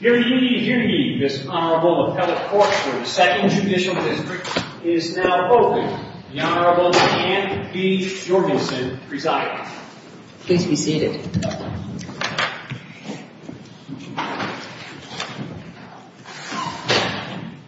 Hear ye, hear ye, this Honorable Appellate Court for the 2nd Judicial District is now open. The Honorable Anne B. Jorgensen presides. Please be seated.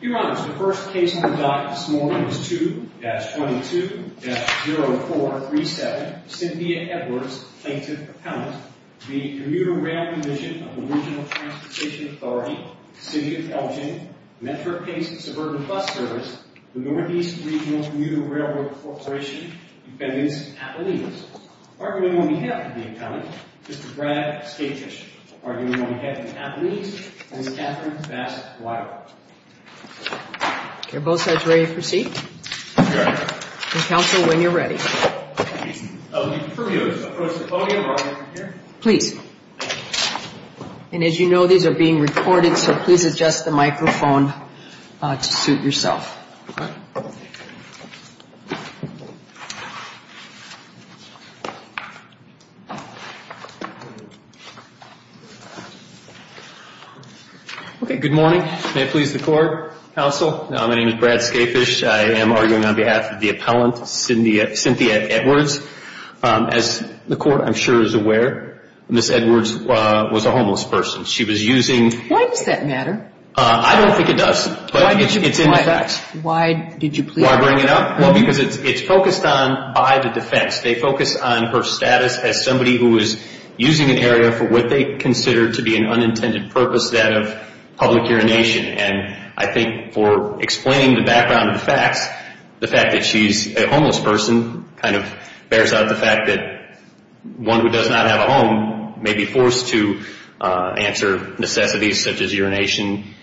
Your Honors, the first case on the docket this morning is 2-22-0437, Cynthia Edwards, Plaintiff Appellant. The Commuter Rail Division of the Regional Transportation Authority, City of Elgin, Metro-Pace Suburban Bus Service, the Northeast Regional Commuter Railroad Corporation, Defendants Appellees. Arguing on behalf of the Appellant, Mr. Brad Skatefish. Arguing on behalf of the Appellees, Ms. Catherine Bassett-Wyra. Are both sides ready to proceed? Yes, Your Honor. Counsel, when you're ready. Please. And as you know, these are being recorded, so please adjust the microphone to suit yourself. Okay, good morning. May it please the Court, Counsel, my name is Brad Skatefish. I am arguing on behalf of the Appellant, Cynthia Edwards. As the Court, I'm sure, is aware, Ms. Edwards was a homeless person. She was using... Why does that matter? I don't think it does, but it's in the facts. Why did you bring it up? Well, because it's focused on by the defense. They focus on her status as somebody who is using an area for what they consider to be an unintended purpose, that of public urination. And I think for explaining the background of the facts, the fact that she's a homeless person kind of bears out the fact that one who does not have a home may be forced to answer necessities such as urination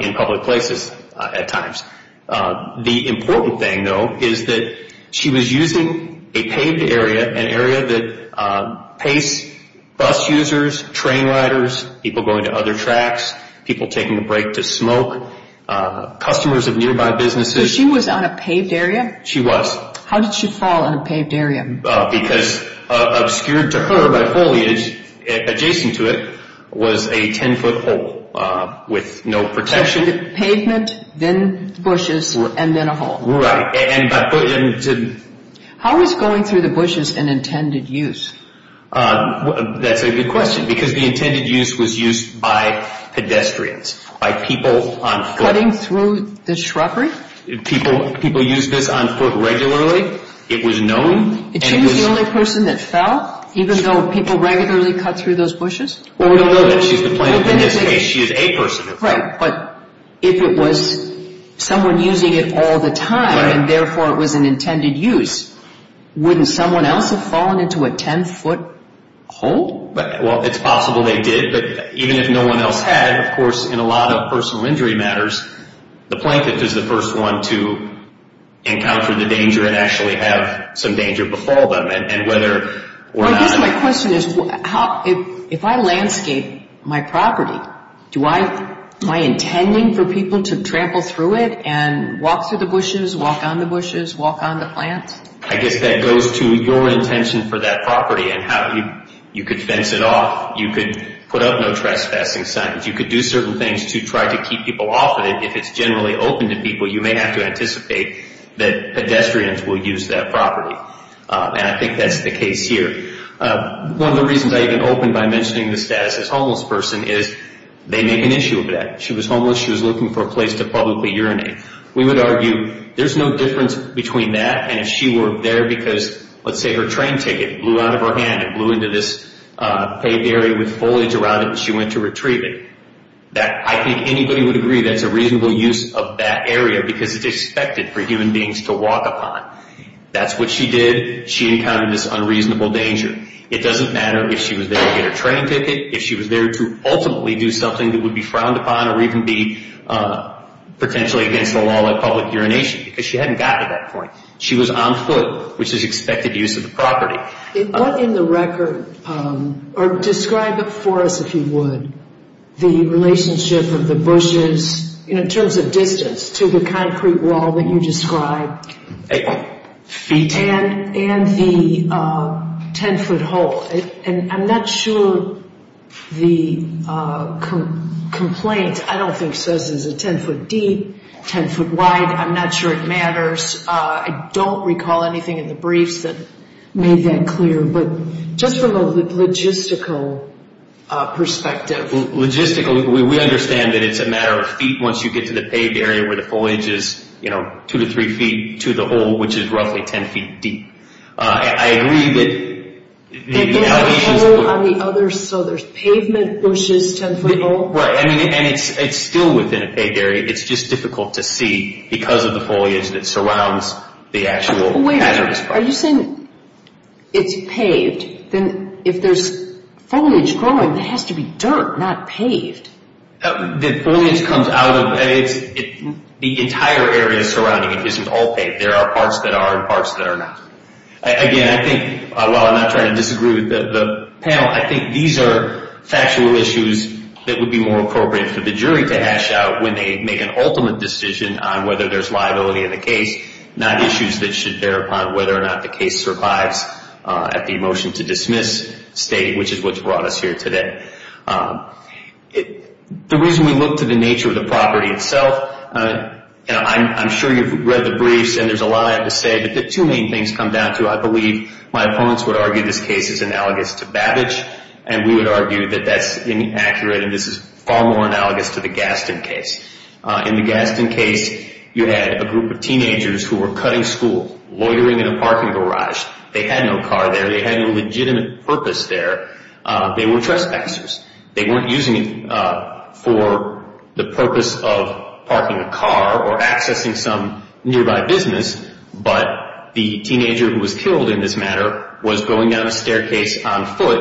in public places at times. The important thing, though, is that she was using a paved area, an area that paced bus users, train riders, people going to other tracks, people taking a break to smoke, customers of nearby businesses. So she was on a paved area? She was. How did she fall on a paved area? Because obscured to her by foliage adjacent to it was a 10-foot hole with no protection. So she did pavement, then bushes, and then a hole. Right. How was going through the bushes an intended use? That's a good question, because the intended use was used by pedestrians, by people on foot. Cutting through the shrubbery? People used this on foot regularly. It was known. And she was the only person that fell, even though people regularly cut through those bushes? Well, we don't know that. She's the plaintiff in this case. She is a person. Right. But if it was someone using it all the time, and therefore it was an intended use, wouldn't someone else have fallen into a 10-foot hole? Well, it's possible they did. But even if no one else had, of course, in a lot of personal injury matters, the plaintiff is the first one to encounter the danger and actually have some danger before them. I guess my question is, if I landscape my property, am I intending for people to trample through it and walk through the bushes, walk on the bushes, walk on the plants? I guess that goes to your intention for that property and how you could fence it off. You could put up no trespassing signs. You could do certain things to try to keep people off of it. If it's generally open to people, you may have to anticipate that pedestrians will use that property. And I think that's the case here. One of the reasons I even opened by mentioning the status as a homeless person is they make an issue of that. She was homeless. She was looking for a place to publicly urinate. We would argue there's no difference between that and if she were there because, let's say, her train ticket blew out of her hand and blew into this paved area with foliage around it and she went to retrieve it. I think anybody would agree that's a reasonable use of that area because it's expected for human beings to walk upon. That's what she did. She encountered this unreasonable danger. It doesn't matter if she was there to get her train ticket, if she was there to ultimately do something that would be frowned upon or even be potentially against the law like public urination because she hadn't gotten to that point. She was on foot, which is expected use of the property. What in the record or describe for us, if you would, the relationship of the bushes in terms of distance to the concrete wall that you described and the 10-foot hole. I'm not sure the complaint, I don't think, says it's a 10-foot deep, 10-foot wide. I'm not sure it matters. I don't recall anything in the briefs that made that clear, but just from a logistical perspective. Logistically, we understand that it's a matter of feet once you get to the paved area where the foliage is two to three feet to the hole, which is roughly 10 feet deep. I agree that... There's a hole on the other, so there's pavement, bushes, 10-foot hole. Right, and it's still within a paved area. It's just difficult to see because of the foliage that surrounds the actual hazardous part. Wait a minute. Are you saying it's paved? If there's foliage growing, it has to be dirt, not paved. The foliage comes out of... The entire area surrounding it isn't all paved. There are parts that are and parts that are not. Again, I think, while I'm not trying to disagree with the panel, I think these are factual issues that would be more appropriate for the jury to hash out when they make an ultimate decision on whether there's liability in the case, not issues that should bear upon whether or not the case survives at the motion to dismiss state, which is what's brought us here today. The reason we look to the nature of the property itself... I'm sure you've read the briefs, and there's a lot I have to say, but two main things come down to. I believe my opponents would argue this case is analogous to Babbage, and we would argue that that's inaccurate, and this is far more analogous to the Gaston case. In the Gaston case, you had a group of teenagers who were cutting school, loitering in a parking garage. They had no car there. They had no legitimate purpose there. They were trespassers. They weren't using it for the purpose of parking a car or accessing some nearby business, but the teenager who was killed in this matter was going down a staircase on foot,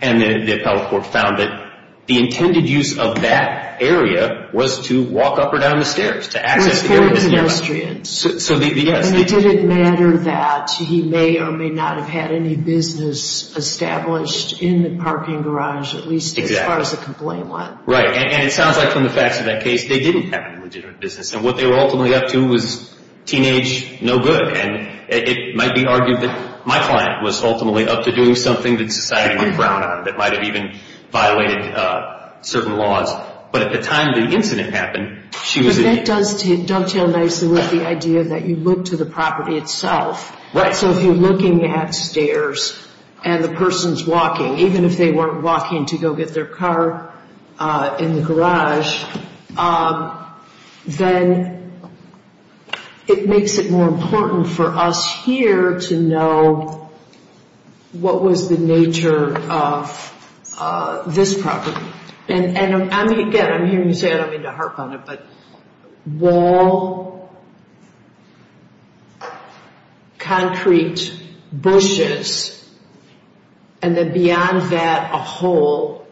and the appellate court found that the intended use of that area was to walk up or down the stairs to access the area that's nearby. It didn't matter that he may or may not have had any business established in the parking garage, at least as far as the complaint went. Right, and it sounds like from the facts of that case, they didn't have any legitimate business, and what they were ultimately up to was teenage no good, and it might be argued that my client was ultimately up to doing something that society would frown on that might have even violated certain laws, but at the time the incident happened, she was a teenager. But that does dovetail nicely with the idea that you look to the property itself. Right. So if you're looking at stairs and the person's walking, even if they weren't walking to go get their car in the garage, then it makes it more important for us here to know what was the nature of this property. Again, I'm hearing you say, I don't mean to harp on it, but wall, concrete, bushes, and then beyond that, a hole,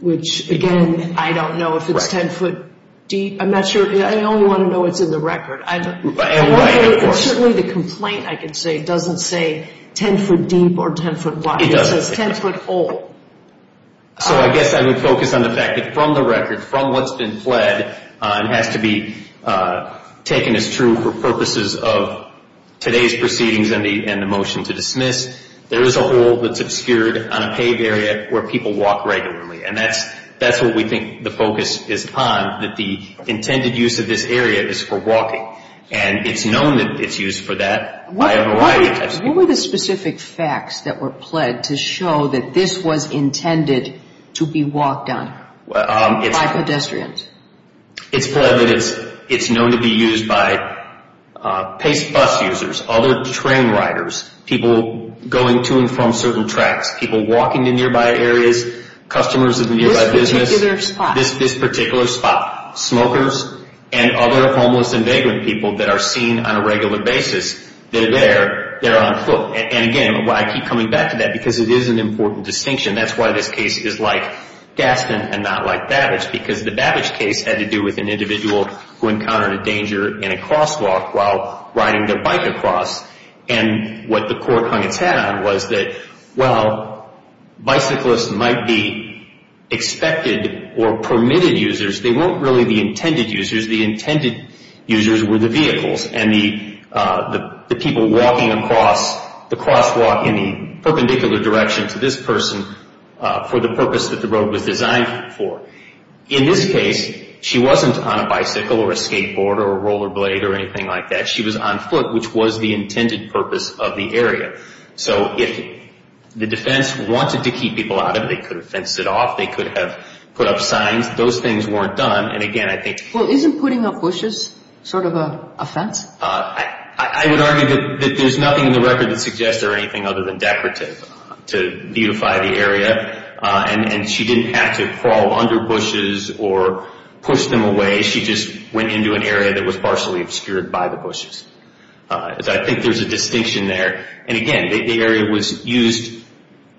which again, I don't know if it's 10 foot deep. I'm not sure. I only want to know what's in the record. Certainly the complaint, I can say, doesn't say 10 foot deep or 10 foot wide. It doesn't. It says 10 foot hole. So I guess I would focus on the fact that from the record, from what's been pled and has to be taken as true for purposes of today's proceedings and the motion to dismiss, there is a hole that's obscured on a paved area where people walk regularly. And that's what we think the focus is upon, that the intended use of this area is for walking. And it's known that it's used for that by a variety of types of people. What were the specific facts that were pled to show that this was intended to be walked on by pedestrians? It's pled that it's known to be used by Pace Bus users, other train riders, people going to and from certain tracks, people walking in nearby areas, customers of the nearby business. This particular spot. This particular spot. Smokers and other homeless and vagrant people that are seen on a regular basis. They're there. They're on foot. And, again, I keep coming back to that because it is an important distinction. That's why this case is like Gaston and not like Babbage, because the Babbage case had to do with an individual who encountered a danger in a crosswalk while riding their bike across. And what the court hung its hat on was that, well, bicyclists might be expected or permitted users. They weren't really the intended users. The intended users were the vehicles and the people walking across the crosswalk in the perpendicular direction to this person for the purpose that the road was designed for. In this case, she wasn't on a bicycle or a skateboard or a roller blade or anything like that. She was on foot, which was the intended purpose of the area. So if the defense wanted to keep people out of it, they could have fenced it off. They could have put up signs. Those things weren't done. And, again, I think – Well, isn't putting up bushes sort of an offense? I would argue that there's nothing in the record that suggests there are anything other than decorative to beautify the area. And she didn't have to crawl under bushes or push them away. She just went into an area that was partially obscured by the bushes. So I think there's a distinction there. And, again, the area was used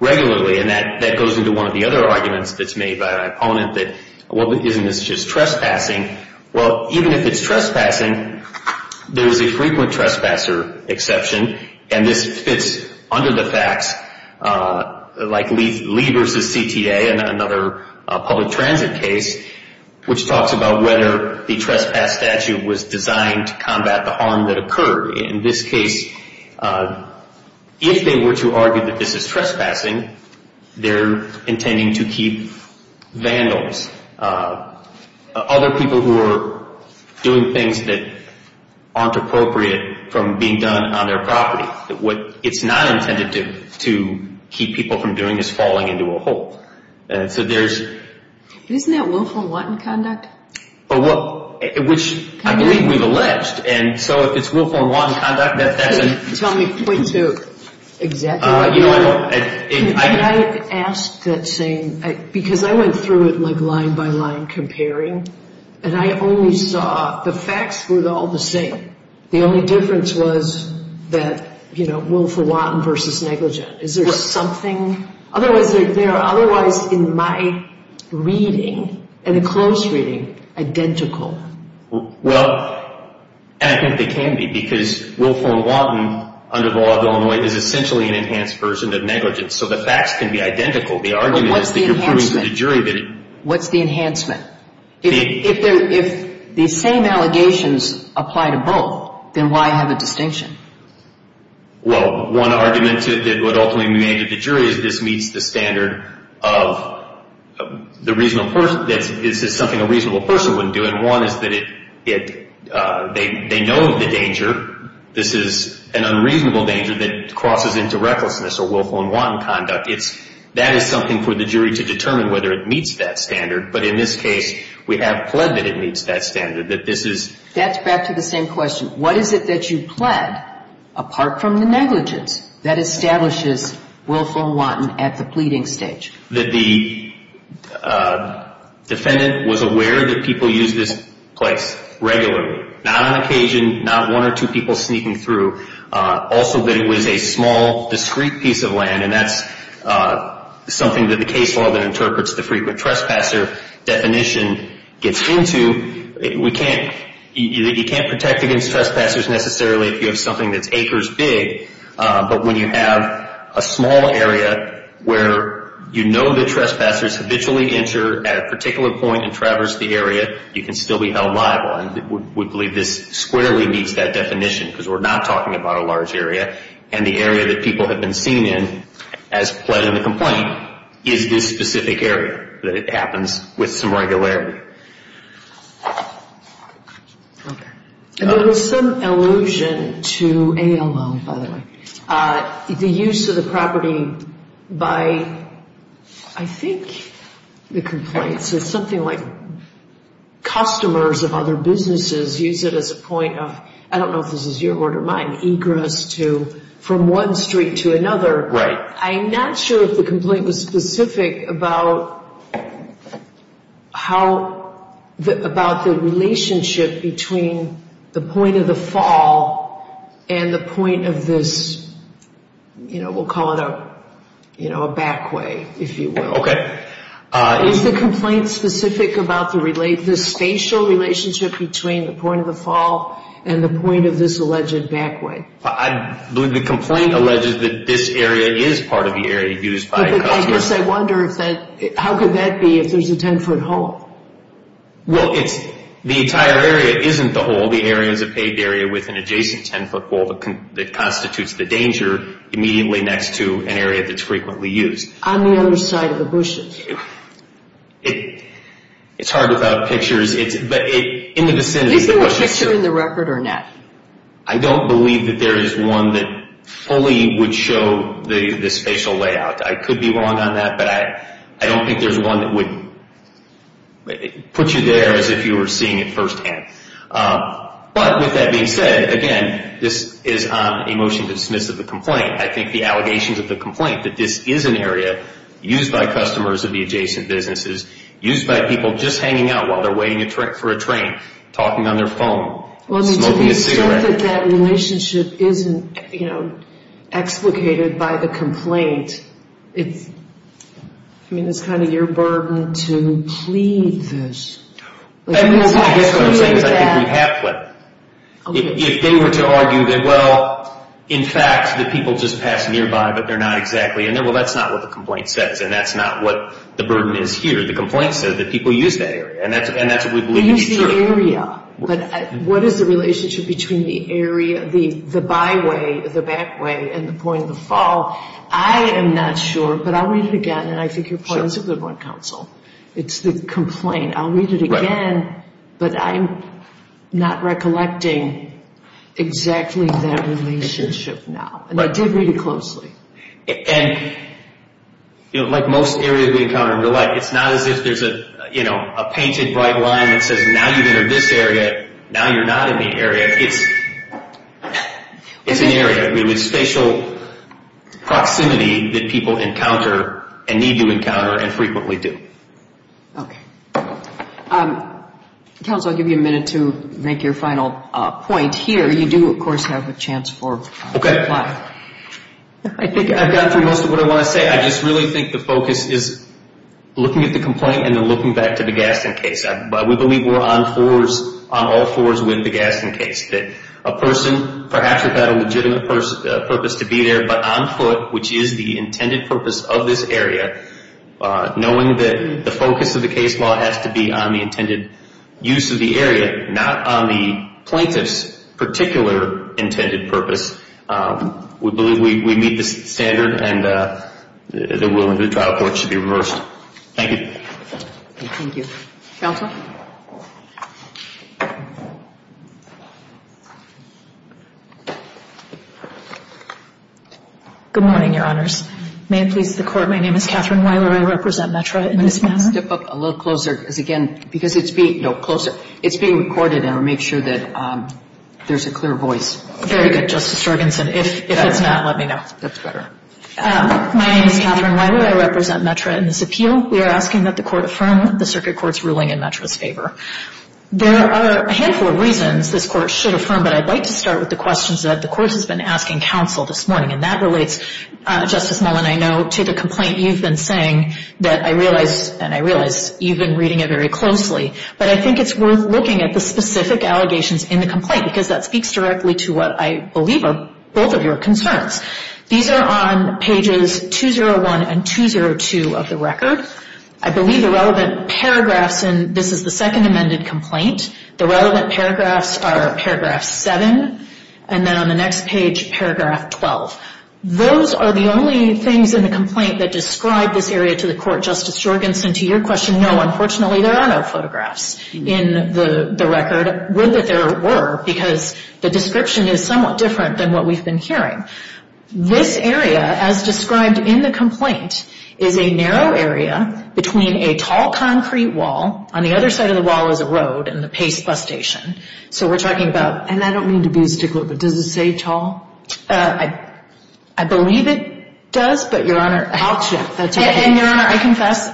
regularly. And that goes into one of the other arguments that's made by my opponent that, well, isn't this just trespassing? Well, even if it's trespassing, there's a frequent trespasser exception. And this fits under the facts, like Lee v. CTA, another public transit case, which talks about whether the trespass statute was designed to combat the harm that occurred. In this case, if they were to argue that this is trespassing, they're intending to keep vandals, other people who are doing things that aren't appropriate from being done on their property. What it's not intended to keep people from doing is falling into a hole. So there's – Isn't that willful and wanton conduct? Which I believe we've alleged. And so if it's willful and wanton conduct, that's – Tell me, point to exactly what you're – Can I ask that same – because I went through it line by line comparing, and I only saw the facts were all the same. The only difference was that willful, wanton versus negligent. Is there something – Otherwise, in my reading, in a close reading, identical. Well, and I think there can be because willful and wanton under the law of Illinois is essentially an enhanced version of negligence. So the facts can be identical. The argument is that you're proving to the jury that it – What's the enhancement? If the same allegations apply to both, then why have a distinction? Well, one argument that would ultimately be made to the jury is this meets the standard of the reasonable person. This is something a reasonable person wouldn't do. And one is that it – they know the danger. This is an unreasonable danger that crosses into recklessness or willful and wanton conduct. It's – that is something for the jury to determine whether it meets that standard. But in this case, we have pled that it meets that standard, that this is – That's back to the same question. What is it that you pled apart from the negligence that establishes willful and wanton at the pleading stage? That the defendant was aware that people use this place regularly. Not on occasion, not one or two people sneaking through. Also that it was a small, discrete piece of land, and that's something that the case law that interprets the frequent trespasser definition gets into. We can't – you can't protect against trespassers necessarily if you have something that's acres big, but when you have a small area where you know that trespassers habitually enter at a particular point and traverse the area, you can still be held liable. And we believe this squarely meets that definition because we're not talking about a large area. And the area that people have been seen in as pled in the complaint is this specific area, that it happens with some regularity. Okay. And there was some allusion to ALO, by the way. The use of the property by, I think, the complaints, it's something like customers of other businesses use it as a point of – I don't know if this is your word or mine – egress to – from one street to another. Right. I'm not sure if the complaint was specific about how – about the relationship between the point of the fall and the point of this, you know, we'll call it a back way, if you will. Okay. Is the complaint specific about the spatial relationship between the point of the fall and the point of this alleged back way? I believe the complaint alleges that this area is part of the area used by customers. I guess I wonder if that – how could that be if there's a 10-foot hole? Well, it's – the entire area isn't the hole. The area is a paved area with an adjacent 10-foot wall that constitutes the danger immediately next to an area that's frequently used. On the other side of the bushes. It's hard without pictures. In the vicinity – Is there a picture in the record or not? I don't believe that there is one that fully would show the spatial layout. I could be wrong on that, but I don't think there's one that would put you there as if you were seeing it firsthand. But with that being said, again, this is a motion to dismiss of the complaint. I think the allegations of the complaint that this is an area used by customers of the adjacent businesses, used by people just hanging out while they're waiting for a train, talking on their phone, smoking a cigarette. Well, to the extent that that relationship isn't, you know, explicated by the complaint, it's – I mean, it's kind of your burden to plead this. I guess what I'm saying is I think we have pleaded. If they were to argue that, well, in fact, the people just pass nearby, but they're not exactly – well, that's not what the complaint says, and that's not what the burden is here. The complaint says that people use that area, and that's what we believe to be true. That area, but what is the relationship between the area, the byway, the backway, and the point of the fall? I am not sure, but I'll read it again, and I think your point is a good one, counsel. It's the complaint. I'll read it again, but I'm not recollecting exactly that relationship now. And I did read it closely. And, you know, like most areas we encounter in real life, it's not as if there's a, you know, a painted bright line that says now you've entered this area, now you're not in the area. It's an area. It's spatial proximity that people encounter and need to encounter and frequently do. Okay. Counsel, I'll give you a minute to make your final point here. You do, of course, have a chance for reply. Okay. I think I've gotten through most of what I want to say. I just really think the focus is looking at the complaint and then looking back to the Gaston case. We believe we're on fours, on all fours, with the Gaston case. That a person perhaps had a legitimate purpose to be there, but on foot, which is the intended purpose of this area, knowing that the focus of the case law has to be on the intended use of the area, not on the plaintiff's particular intended purpose. We believe we meet the standard, and the ruling of the trial court should be reversed. Thank you. Thank you. Counsel? Good morning, Your Honors. May it please the Court, my name is Catherine Weiler. I represent METRA in this matter. Step up a little closer, because, again, because it's being recorded, and we'll make sure that there's a clear voice. Very good, Justice Jorgenson. If it's not, let me know. That's better. My name is Catherine Weiler. I represent METRA in this appeal. We are asking that the Court affirm the circuit court's ruling in METRA's favor. There are a handful of reasons this Court should affirm, but I'd like to start with the questions that the Court has been asking counsel this morning, and that relates, Justice Mullen, I know, to the complaint you've been saying that I realize, and I realize you've been reading it very closely, but I think it's worth looking at the specific allegations in the complaint, because that speaks directly to what I believe are both of your concerns. These are on pages 201 and 202 of the record. I believe the relevant paragraphs in this is the second amended complaint. The relevant paragraphs are paragraph 7, and then on the next page, paragraph 12. Those are the only things in the complaint that describe this area to the Court, Justice Jorgenson. To your question, no, unfortunately, there are no photographs in the record, but I would that there were, because the description is somewhat different than what we've been hearing. This area, as described in the complaint, is a narrow area between a tall concrete wall. On the other side of the wall is a road and the Pace Bus Station. So we're talking about... And I don't mean to be a stickler, but does it say tall? I believe it does, but, Your Honor... I'll check. And, Your Honor, I confess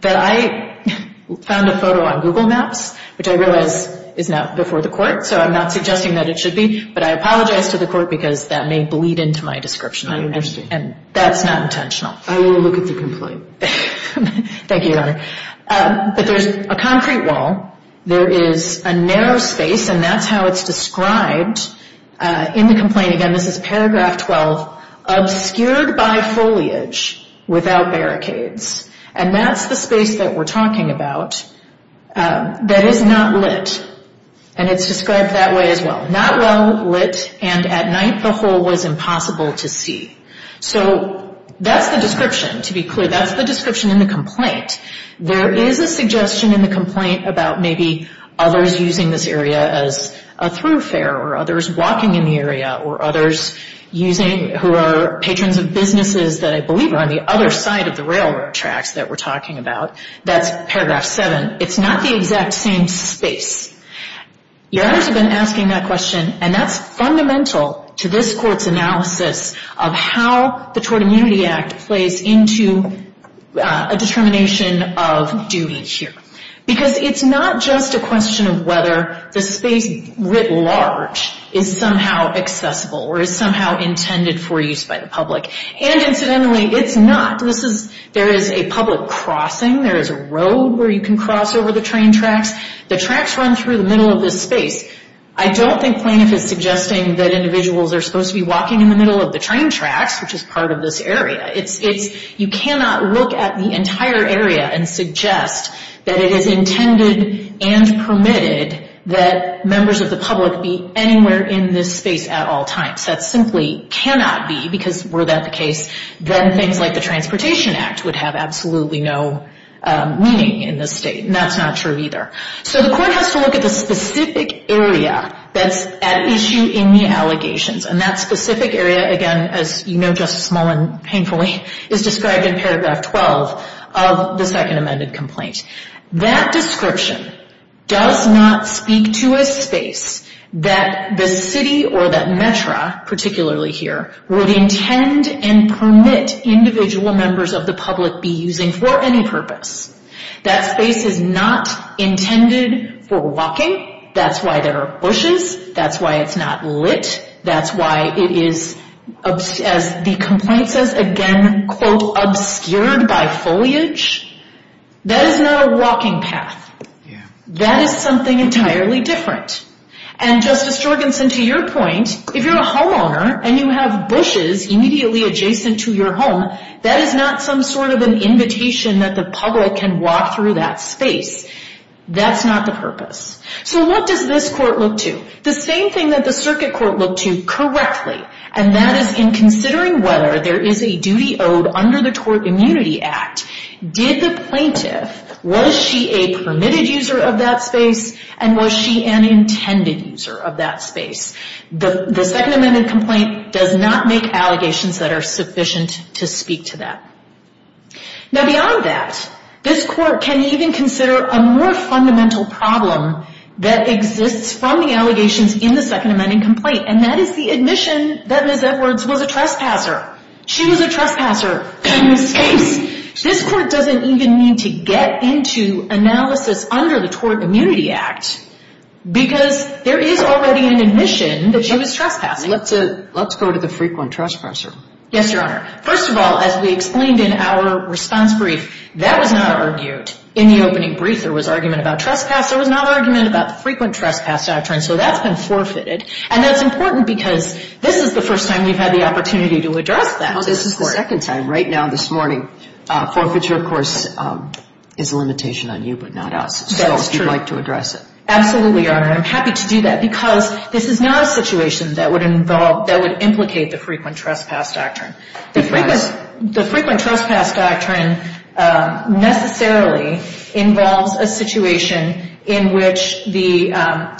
that I found a photo on Google Maps, which I realize is not before the Court, so I'm not suggesting that it should be. But I apologize to the Court because that may bleed into my description. I understand. And that's not intentional. I will look at the complaint. Thank you, Your Honor. But there's a concrete wall. There is a narrow space, and that's how it's described in the complaint. Again, this is paragraph 12, obscured by foliage without barricades. And that's the space that we're talking about that is not lit. And it's described that way as well. Not well lit, and at night the hole was impossible to see. So that's the description, to be clear. That's the description in the complaint. There is a suggestion in the complaint about maybe others using this area as a throughfare or others walking in the area or others using... That's paragraph 7. It's not the exact same space. Your Honors have been asking that question, and that's fundamental to this Court's analysis of how the Tort Immunity Act plays into a determination of duty here. Because it's not just a question of whether the space writ large is somehow accessible or is somehow intended for use by the public. And incidentally, it's not. There is a public crossing. There is a road where you can cross over the train tracks. The tracks run through the middle of this space. I don't think Plaintiff is suggesting that individuals are supposed to be walking in the middle of the train tracks, which is part of this area. You cannot look at the entire area and suggest that it is intended and permitted that members of the public be anywhere in this space at all times. That simply cannot be, because were that the case, then things like the Transportation Act would have absolutely no meaning in this State. And that's not true either. So the Court has to look at the specific area that's at issue in the allegations. And that specific area, again, as you know Justice Mullin painfully, is described in paragraph 12 of the Second Amended Complaint. That description does not speak to a space that the City or that Metro, particularly here, would intend and permit individual members of the public be using for any purpose. That space is not intended for walking. That's why there are bushes. That's why it's not lit. That's why it is, as the complaint says again, quote, obscured by foliage. That is not a walking path. That is something entirely different. And Justice Jorgensen, to your point, if you're a homeowner and you have bushes immediately adjacent to your home, that is not some sort of an invitation that the public can walk through that space. That's not the purpose. So what does this Court look to? The same thing that the Circuit Court looked to correctly, and that is in considering whether there is a duty owed under the Tort Immunity Act, did the plaintiff, was she a permitted user of that space, and was she an intended user of that space? The Second Amended Complaint does not make allegations that are sufficient to speak to that. Now beyond that, this Court can even consider a more fundamental problem that exists from the allegations in the Second Amending Complaint, and that is the admission that Ms. Edwards was a trespasser. She was a trespasser in this space. This Court doesn't even need to get into analysis under the Tort Immunity Act because there is already an admission that she was trespassing. Let's go to the frequent trespasser. Yes, Your Honor. First of all, as we explained in our response brief, that was not argued. In the opening brief, there was argument about trespass. There was not argument about the frequent trespass doctrine, so that's been forfeited. And that's important because this is the first time we've had the opportunity to address that. This is the second time. Right now, this morning, forfeiture, of course, is a limitation on you but not us. That's true. So we'd like to address it. Absolutely, Your Honor. I'm happy to do that because this is not a situation that would involve, that would implicate the frequent trespass doctrine. The frequent trespass doctrine necessarily involves a situation in which the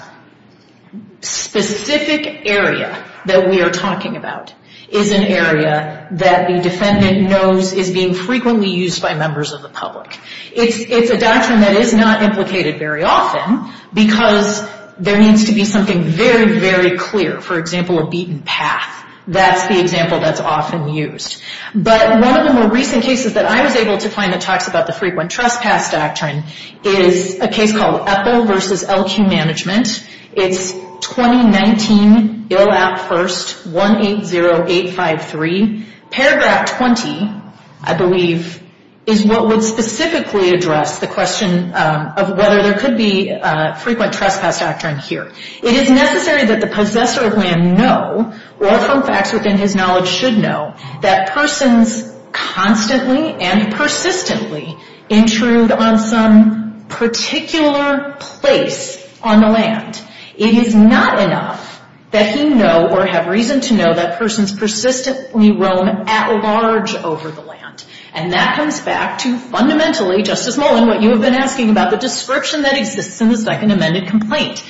specific area that we are talking about is an area that the defendant knows is being frequently used by members of the public. It's a doctrine that is not implicated very often because there needs to be something very, very clear. For example, a beaten path. That's the example that's often used. But one of the more recent cases that I was able to find that talks about the frequent trespass doctrine is a case called Epple v. LQ Management. It's 2019, Ill App First, 180853. Paragraph 20, I believe, is what would specifically address the question of whether there could be a frequent trespass doctrine here. It is necessary that the possessor of land know, or from facts within his knowledge should know, that persons constantly and persistently intrude on some particular place on the land. It is not enough that he know or have reason to know that persons persistently roam at large over the land. And that comes back to fundamentally, Justice Mullen, what you have been asking about the description that exists in the Second Amended Complaint.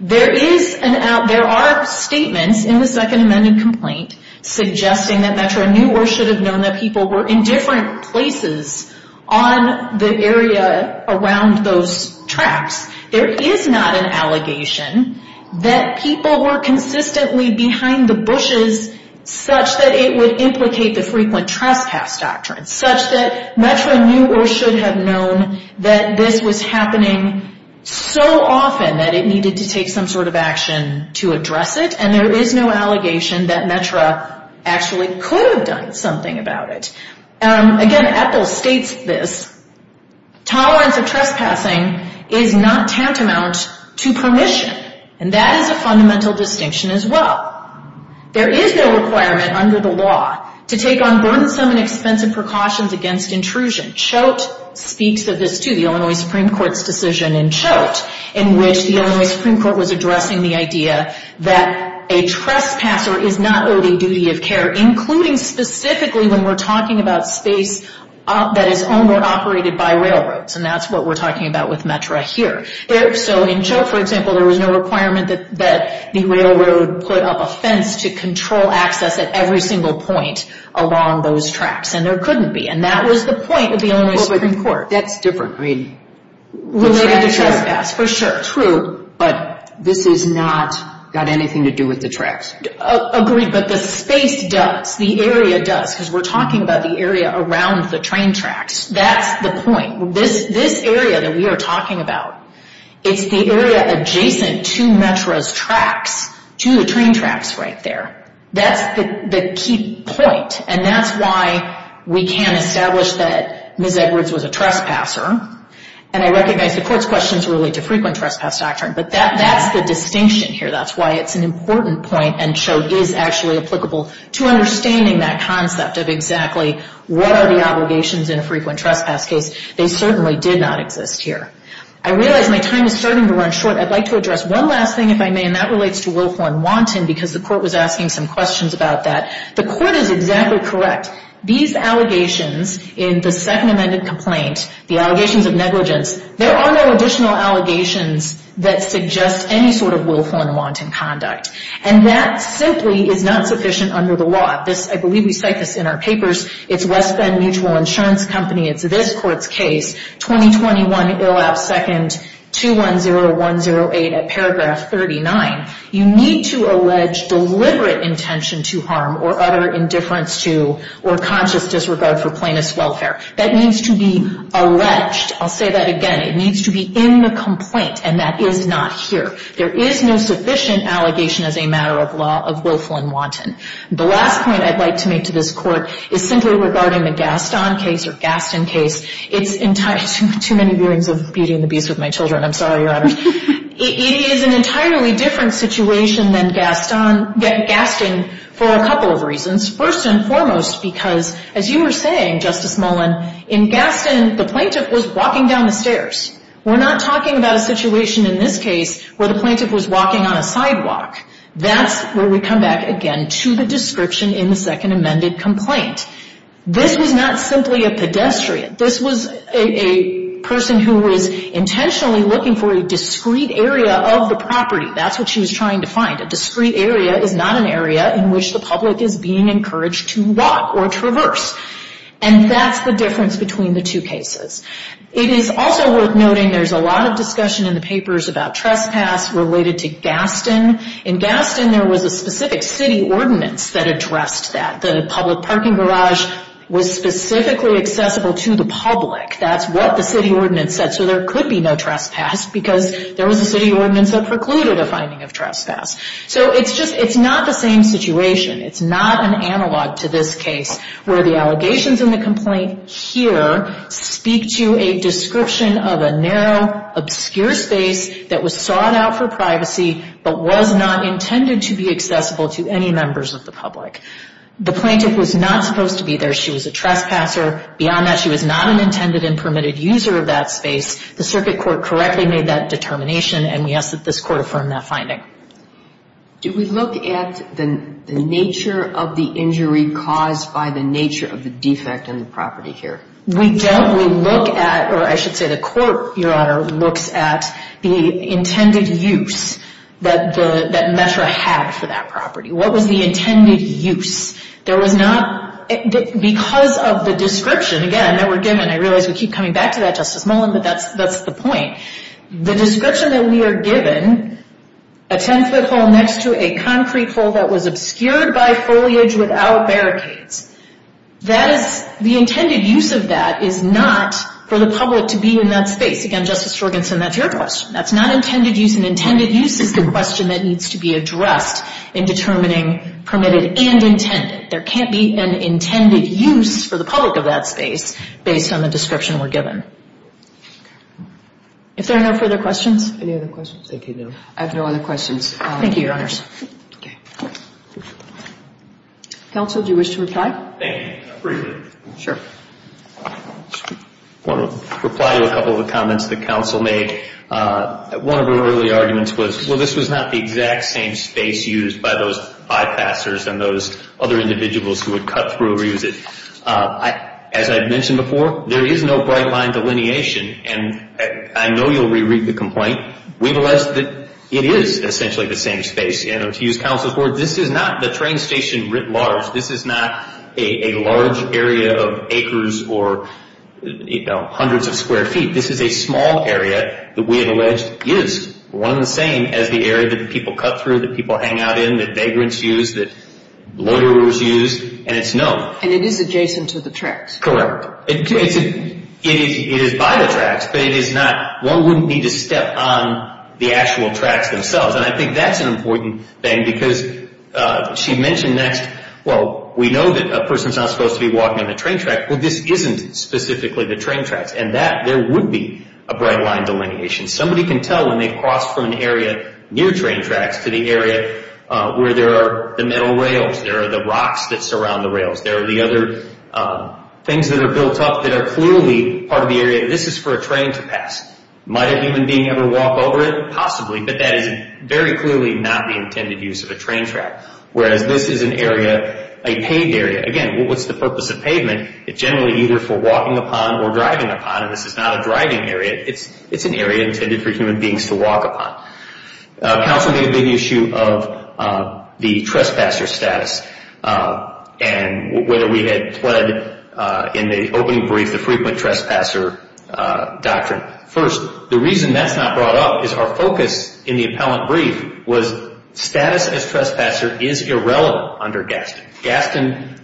There is an out, there are statements in the Second Amended Complaint suggesting that METRA knew or should have known that people were in different places on the area around those tracks. There is not an allegation that people were consistently behind the bushes such that it would implicate the frequent trespass doctrine, such that METRA knew or should have known that this was happening so often that it needed to take some sort of action to address it. And there is no allegation that METRA actually could have done something about it. Again, Epples states this, tolerance of trespassing is not tantamount to permission. And that is a fundamental distinction as well. There is no requirement under the law to take on burdensome and expensive precautions against intrusion. Choate speaks of this too, the Illinois Supreme Court's decision in Choate in which the Illinois Supreme Court was addressing the idea that a trespasser is not owning duty of care, including specifically when we're talking about space that is owned or operated by railroads. And that's what we're talking about with METRA here. So in Choate, for example, there was no requirement that the railroad put up a fence to control access at every single point along those tracks. And there couldn't be. And that was the point of the Illinois Supreme Court. That's different. Related to trespass, for sure. But this has not got anything to do with the tracks. Agreed. But the space does. The area does. Because we're talking about the area around the train tracks. That's the point. This area that we are talking about, it's the area adjacent to METRA's tracks, to the train tracks right there. That's the key point. And that's why we can establish that Ms. Edwards was a trespasser. And I recognize the Court's questions relate to frequent trespass doctrine. But that's the distinction here. That's why it's an important point. And Choate is actually applicable to understanding that concept of exactly what are the obligations in a frequent trespass case. They certainly did not exist here. I realize my time is starting to run short. I'd like to address one last thing, if I may, and that relates to Wilhorn-Wanton because the Court was asking some questions about that. The Court is exactly correct. These allegations in the Second Amended Complaint, the allegations of negligence, there are no additional allegations that suggest any sort of Wilhorn-Wanton conduct. And that simply is not sufficient under the law. I believe we cite this in our papers. It's West Bend Mutual Insurance Company. It's this Court's case, 2021, ill-at-second, 210108, at paragraph 39. You need to allege deliberate intention to harm or utter indifference to or conscious disregard for plaintiff's welfare. That needs to be alleged. I'll say that again. It needs to be in the complaint. And that is not here. There is no sufficient allegation as a matter of law of Wilhorn-Wanton. The last point I'd like to make to this Court is simply regarding the Gaston case or Gaston case. It's too many hearings of Beauty and the Beast with my children. I'm sorry, Your Honor. It is an entirely different situation than Gaston for a couple of reasons. First and foremost because, as you were saying, Justice Mullen, in Gaston, the plaintiff was walking down the stairs. We're not talking about a situation in this case where the plaintiff was walking on a sidewalk. That's where we come back again to the description in the Second Amended Complaint. This was not simply a pedestrian. This was a person who was intentionally looking for a discrete area of the property. That's what she was trying to find. A discrete area is not an area in which the public is being encouraged to walk or traverse. And that's the difference between the two cases. It is also worth noting there's a lot of discussion in the papers about trespass related to Gaston. In Gaston, there was a specific city ordinance that addressed that. The public parking garage was specifically accessible to the public. That's what the city ordinance said. So there could be no trespass because there was a city ordinance that precluded a finding of trespass. So it's not the same situation. It's not an analog to this case where the allegations in the complaint here speak to a description of a narrow, obscure space that was sought out for privacy but was not intended to be accessible to any members of the public. The plaintiff was not supposed to be there. She was a trespasser. Beyond that, she was not an intended and permitted user of that space. The circuit court correctly made that determination, and we ask that this court affirm that finding. Do we look at the nature of the injury caused by the nature of the defect in the property here? We don't. We look at, or I should say the court, Your Honor, looks at the intended use that METRA had for that property. What was the intended use? There was not, because of the description, again, that we're given. I realize we keep coming back to that, Justice Mullen, but that's the point. The description that we are given, a 10-foot hole next to a concrete hole that was obscured by foliage without barricades, that is, the intended use of that is not for the public to be in that space. Again, Justice Sorgenson, that's your question. That's not intended use, and intended use is the question that needs to be permitted and intended. There can't be an intended use for the public of that space based on the description we're given. If there are no further questions? Any other questions? I have no other questions. Thank you, Your Honors. Counsel, do you wish to reply? Thank you. I appreciate it. Sure. I want to reply to a couple of the comments that counsel made. One of her early arguments was, well, this was not the exact same space used by those bypassers and those other individuals who would cut through or use it. As I mentioned before, there is no bright-line delineation, and I know you'll reread the complaint. We've alleged that it is essentially the same space. To use counsel's words, this is not the train station writ large. This is not a large area of acres or hundreds of square feet. This is a small area that we have alleged is one and the same as the area that people cut through, that people hang out in, that vagrants use, that loiterers use, and it's known. And it is adjacent to the tracks. Correct. It is by the tracks, but it is not. One wouldn't need to step on the actual tracks themselves. And I think that's an important thing because she mentioned next, well, we know that a person's not supposed to be walking on the train track. Well, this isn't specifically the train tracks. And that, there would be a bright-line delineation. Somebody can tell when they cross from an area near train tracks to the area where there are the metal rails. There are the rocks that surround the rails. There are the other things that are built up that are clearly part of the area. This is for a train to pass. Might a human being ever walk over it? Possibly, but that is very clearly not the intended use of a train track. Whereas, this is an area, a paved area. Again, what's the purpose of pavement? It's generally either for walking upon or driving upon, and this is not a driving area. It's an area intended for human beings to walk upon. Counsel made a big issue of the trespasser status and whether we had pled in the opening brief the frequent trespasser doctrine. First, the reason that's not brought up is our focus in the appellant brief was status as trespasser is irrelevant under Gaston. Gaston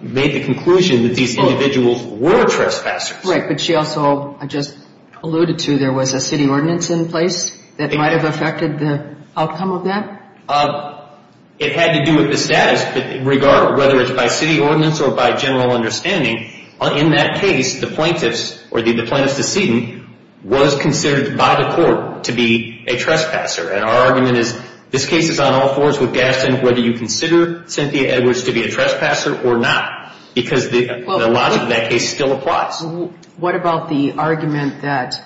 made the conclusion that these individuals were trespassers. That's right, but she also just alluded to there was a city ordinance in place that might have affected the outcome of that. It had to do with the status, whether it's by city ordinance or by general understanding. In that case, the plaintiff's, or the plaintiff's decedent, was considered by the court to be a trespasser. Our argument is this case is on all fours with Gaston whether you consider Cynthia Edwards to be a trespasser or not because the logic of that case still applies. What about the argument that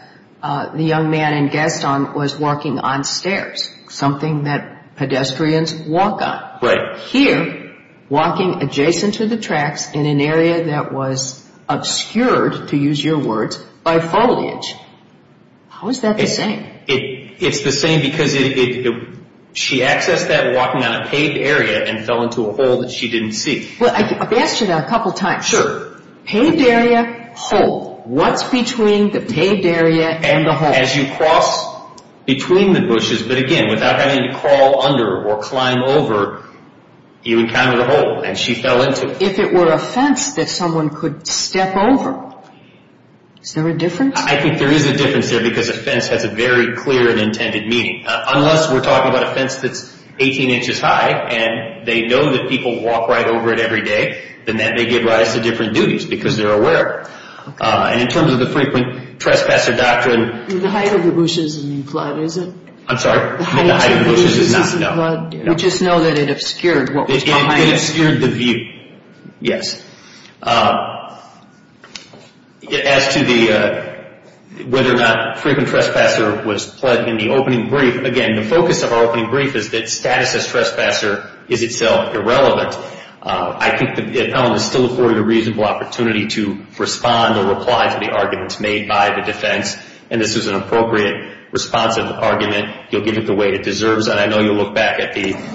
the young man in Gaston was walking on stairs, something that pedestrians walk on? Right. Here, walking adjacent to the tracks in an area that was obscured, to use your words, by foliage. How is that the same? It's the same because she accessed that walking on a paved area and fell into a hole that she didn't see. Well, I've asked you that a couple times. Sure. Paved area, hole. What's between the paved area and the hole? As you cross between the bushes, but again, without having to crawl under or climb over, you encounter the hole and she fell into it. If it were a fence that someone could step over, is there a difference? I think there is a difference there because a fence has a very clear and intended meaning. Unless we're talking about a fence that's 18 inches high and they know that people walk right over it every day, then that may give rise to different duties because they're aware. In terms of the frequent trespasser doctrine... The height of the bushes isn't in flood, is it? I'm sorry? The height of the bushes isn't in flood. We just know that it obscured what was behind it. It obscured the view, yes. As to whether or not frequent trespasser was pled in the opening brief, again, the focus of our opening brief is that status as trespasser is itself irrelevant. I think the appellant is still afforded a reasonable opportunity to respond or reply to the arguments made by the defense, and this is an appropriate, responsive argument. You'll give it the weight it deserves, and I know you'll look back at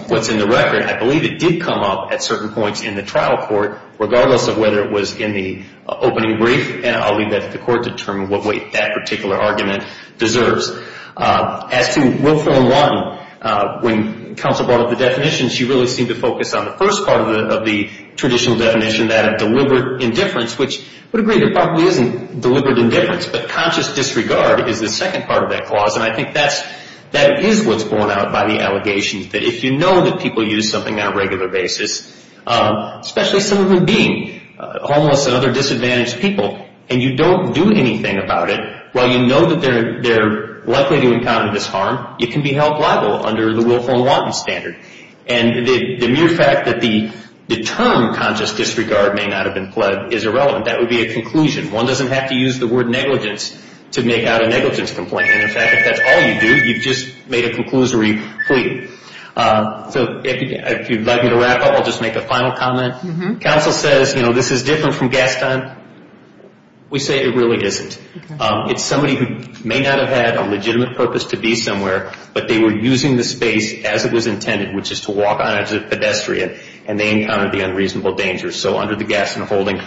what's in the record. I believe it did come up at certain points in the trial court, regardless of whether it was in the opening brief, and I'll leave that to the court to determine what weight that particular argument deserves. As to Rule Form 1, when counsel brought up the definition, she really seemed to focus on the first part of the traditional definition, that of deliberate indifference, which I would agree there probably isn't deliberate indifference, but conscious disregard is the second part of that clause, and I think that is what's borne out by the allegations, that if you know that people use something on a regular basis, especially some of them being homeless and other disadvantaged people, and you don't do anything about it, while you know that they're likely to encounter this harm, it can be held liable under the Willful and Wanton standard, and the mere fact that the term conscious disregard may not have been pled is irrelevant. That would be a conclusion. One doesn't have to use the word negligence to make out a negligence complaint, and in fact, if that's all you do, you've just made a conclusory plea. So if you'd like me to wrap up, I'll just make a final comment. Counsel says, you know, this is different from Gaston. We say it really isn't. It's somebody who may not have had a legitimate purpose to be somewhere, but they were using the space as it was intended, which is to walk on it as a pedestrian, and they encountered the unreasonable dangers. So under the Gaston holding,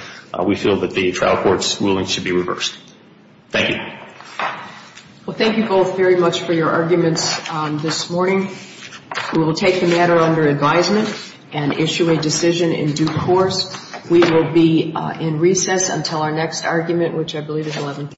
we feel that the trial court's ruling should be reversed. Thank you. Well, thank you both very much for your arguments this morning. We will take the matter under advisement and issue a decision in due course. We will be in recess until our next argument, which I believe is 11 p.m.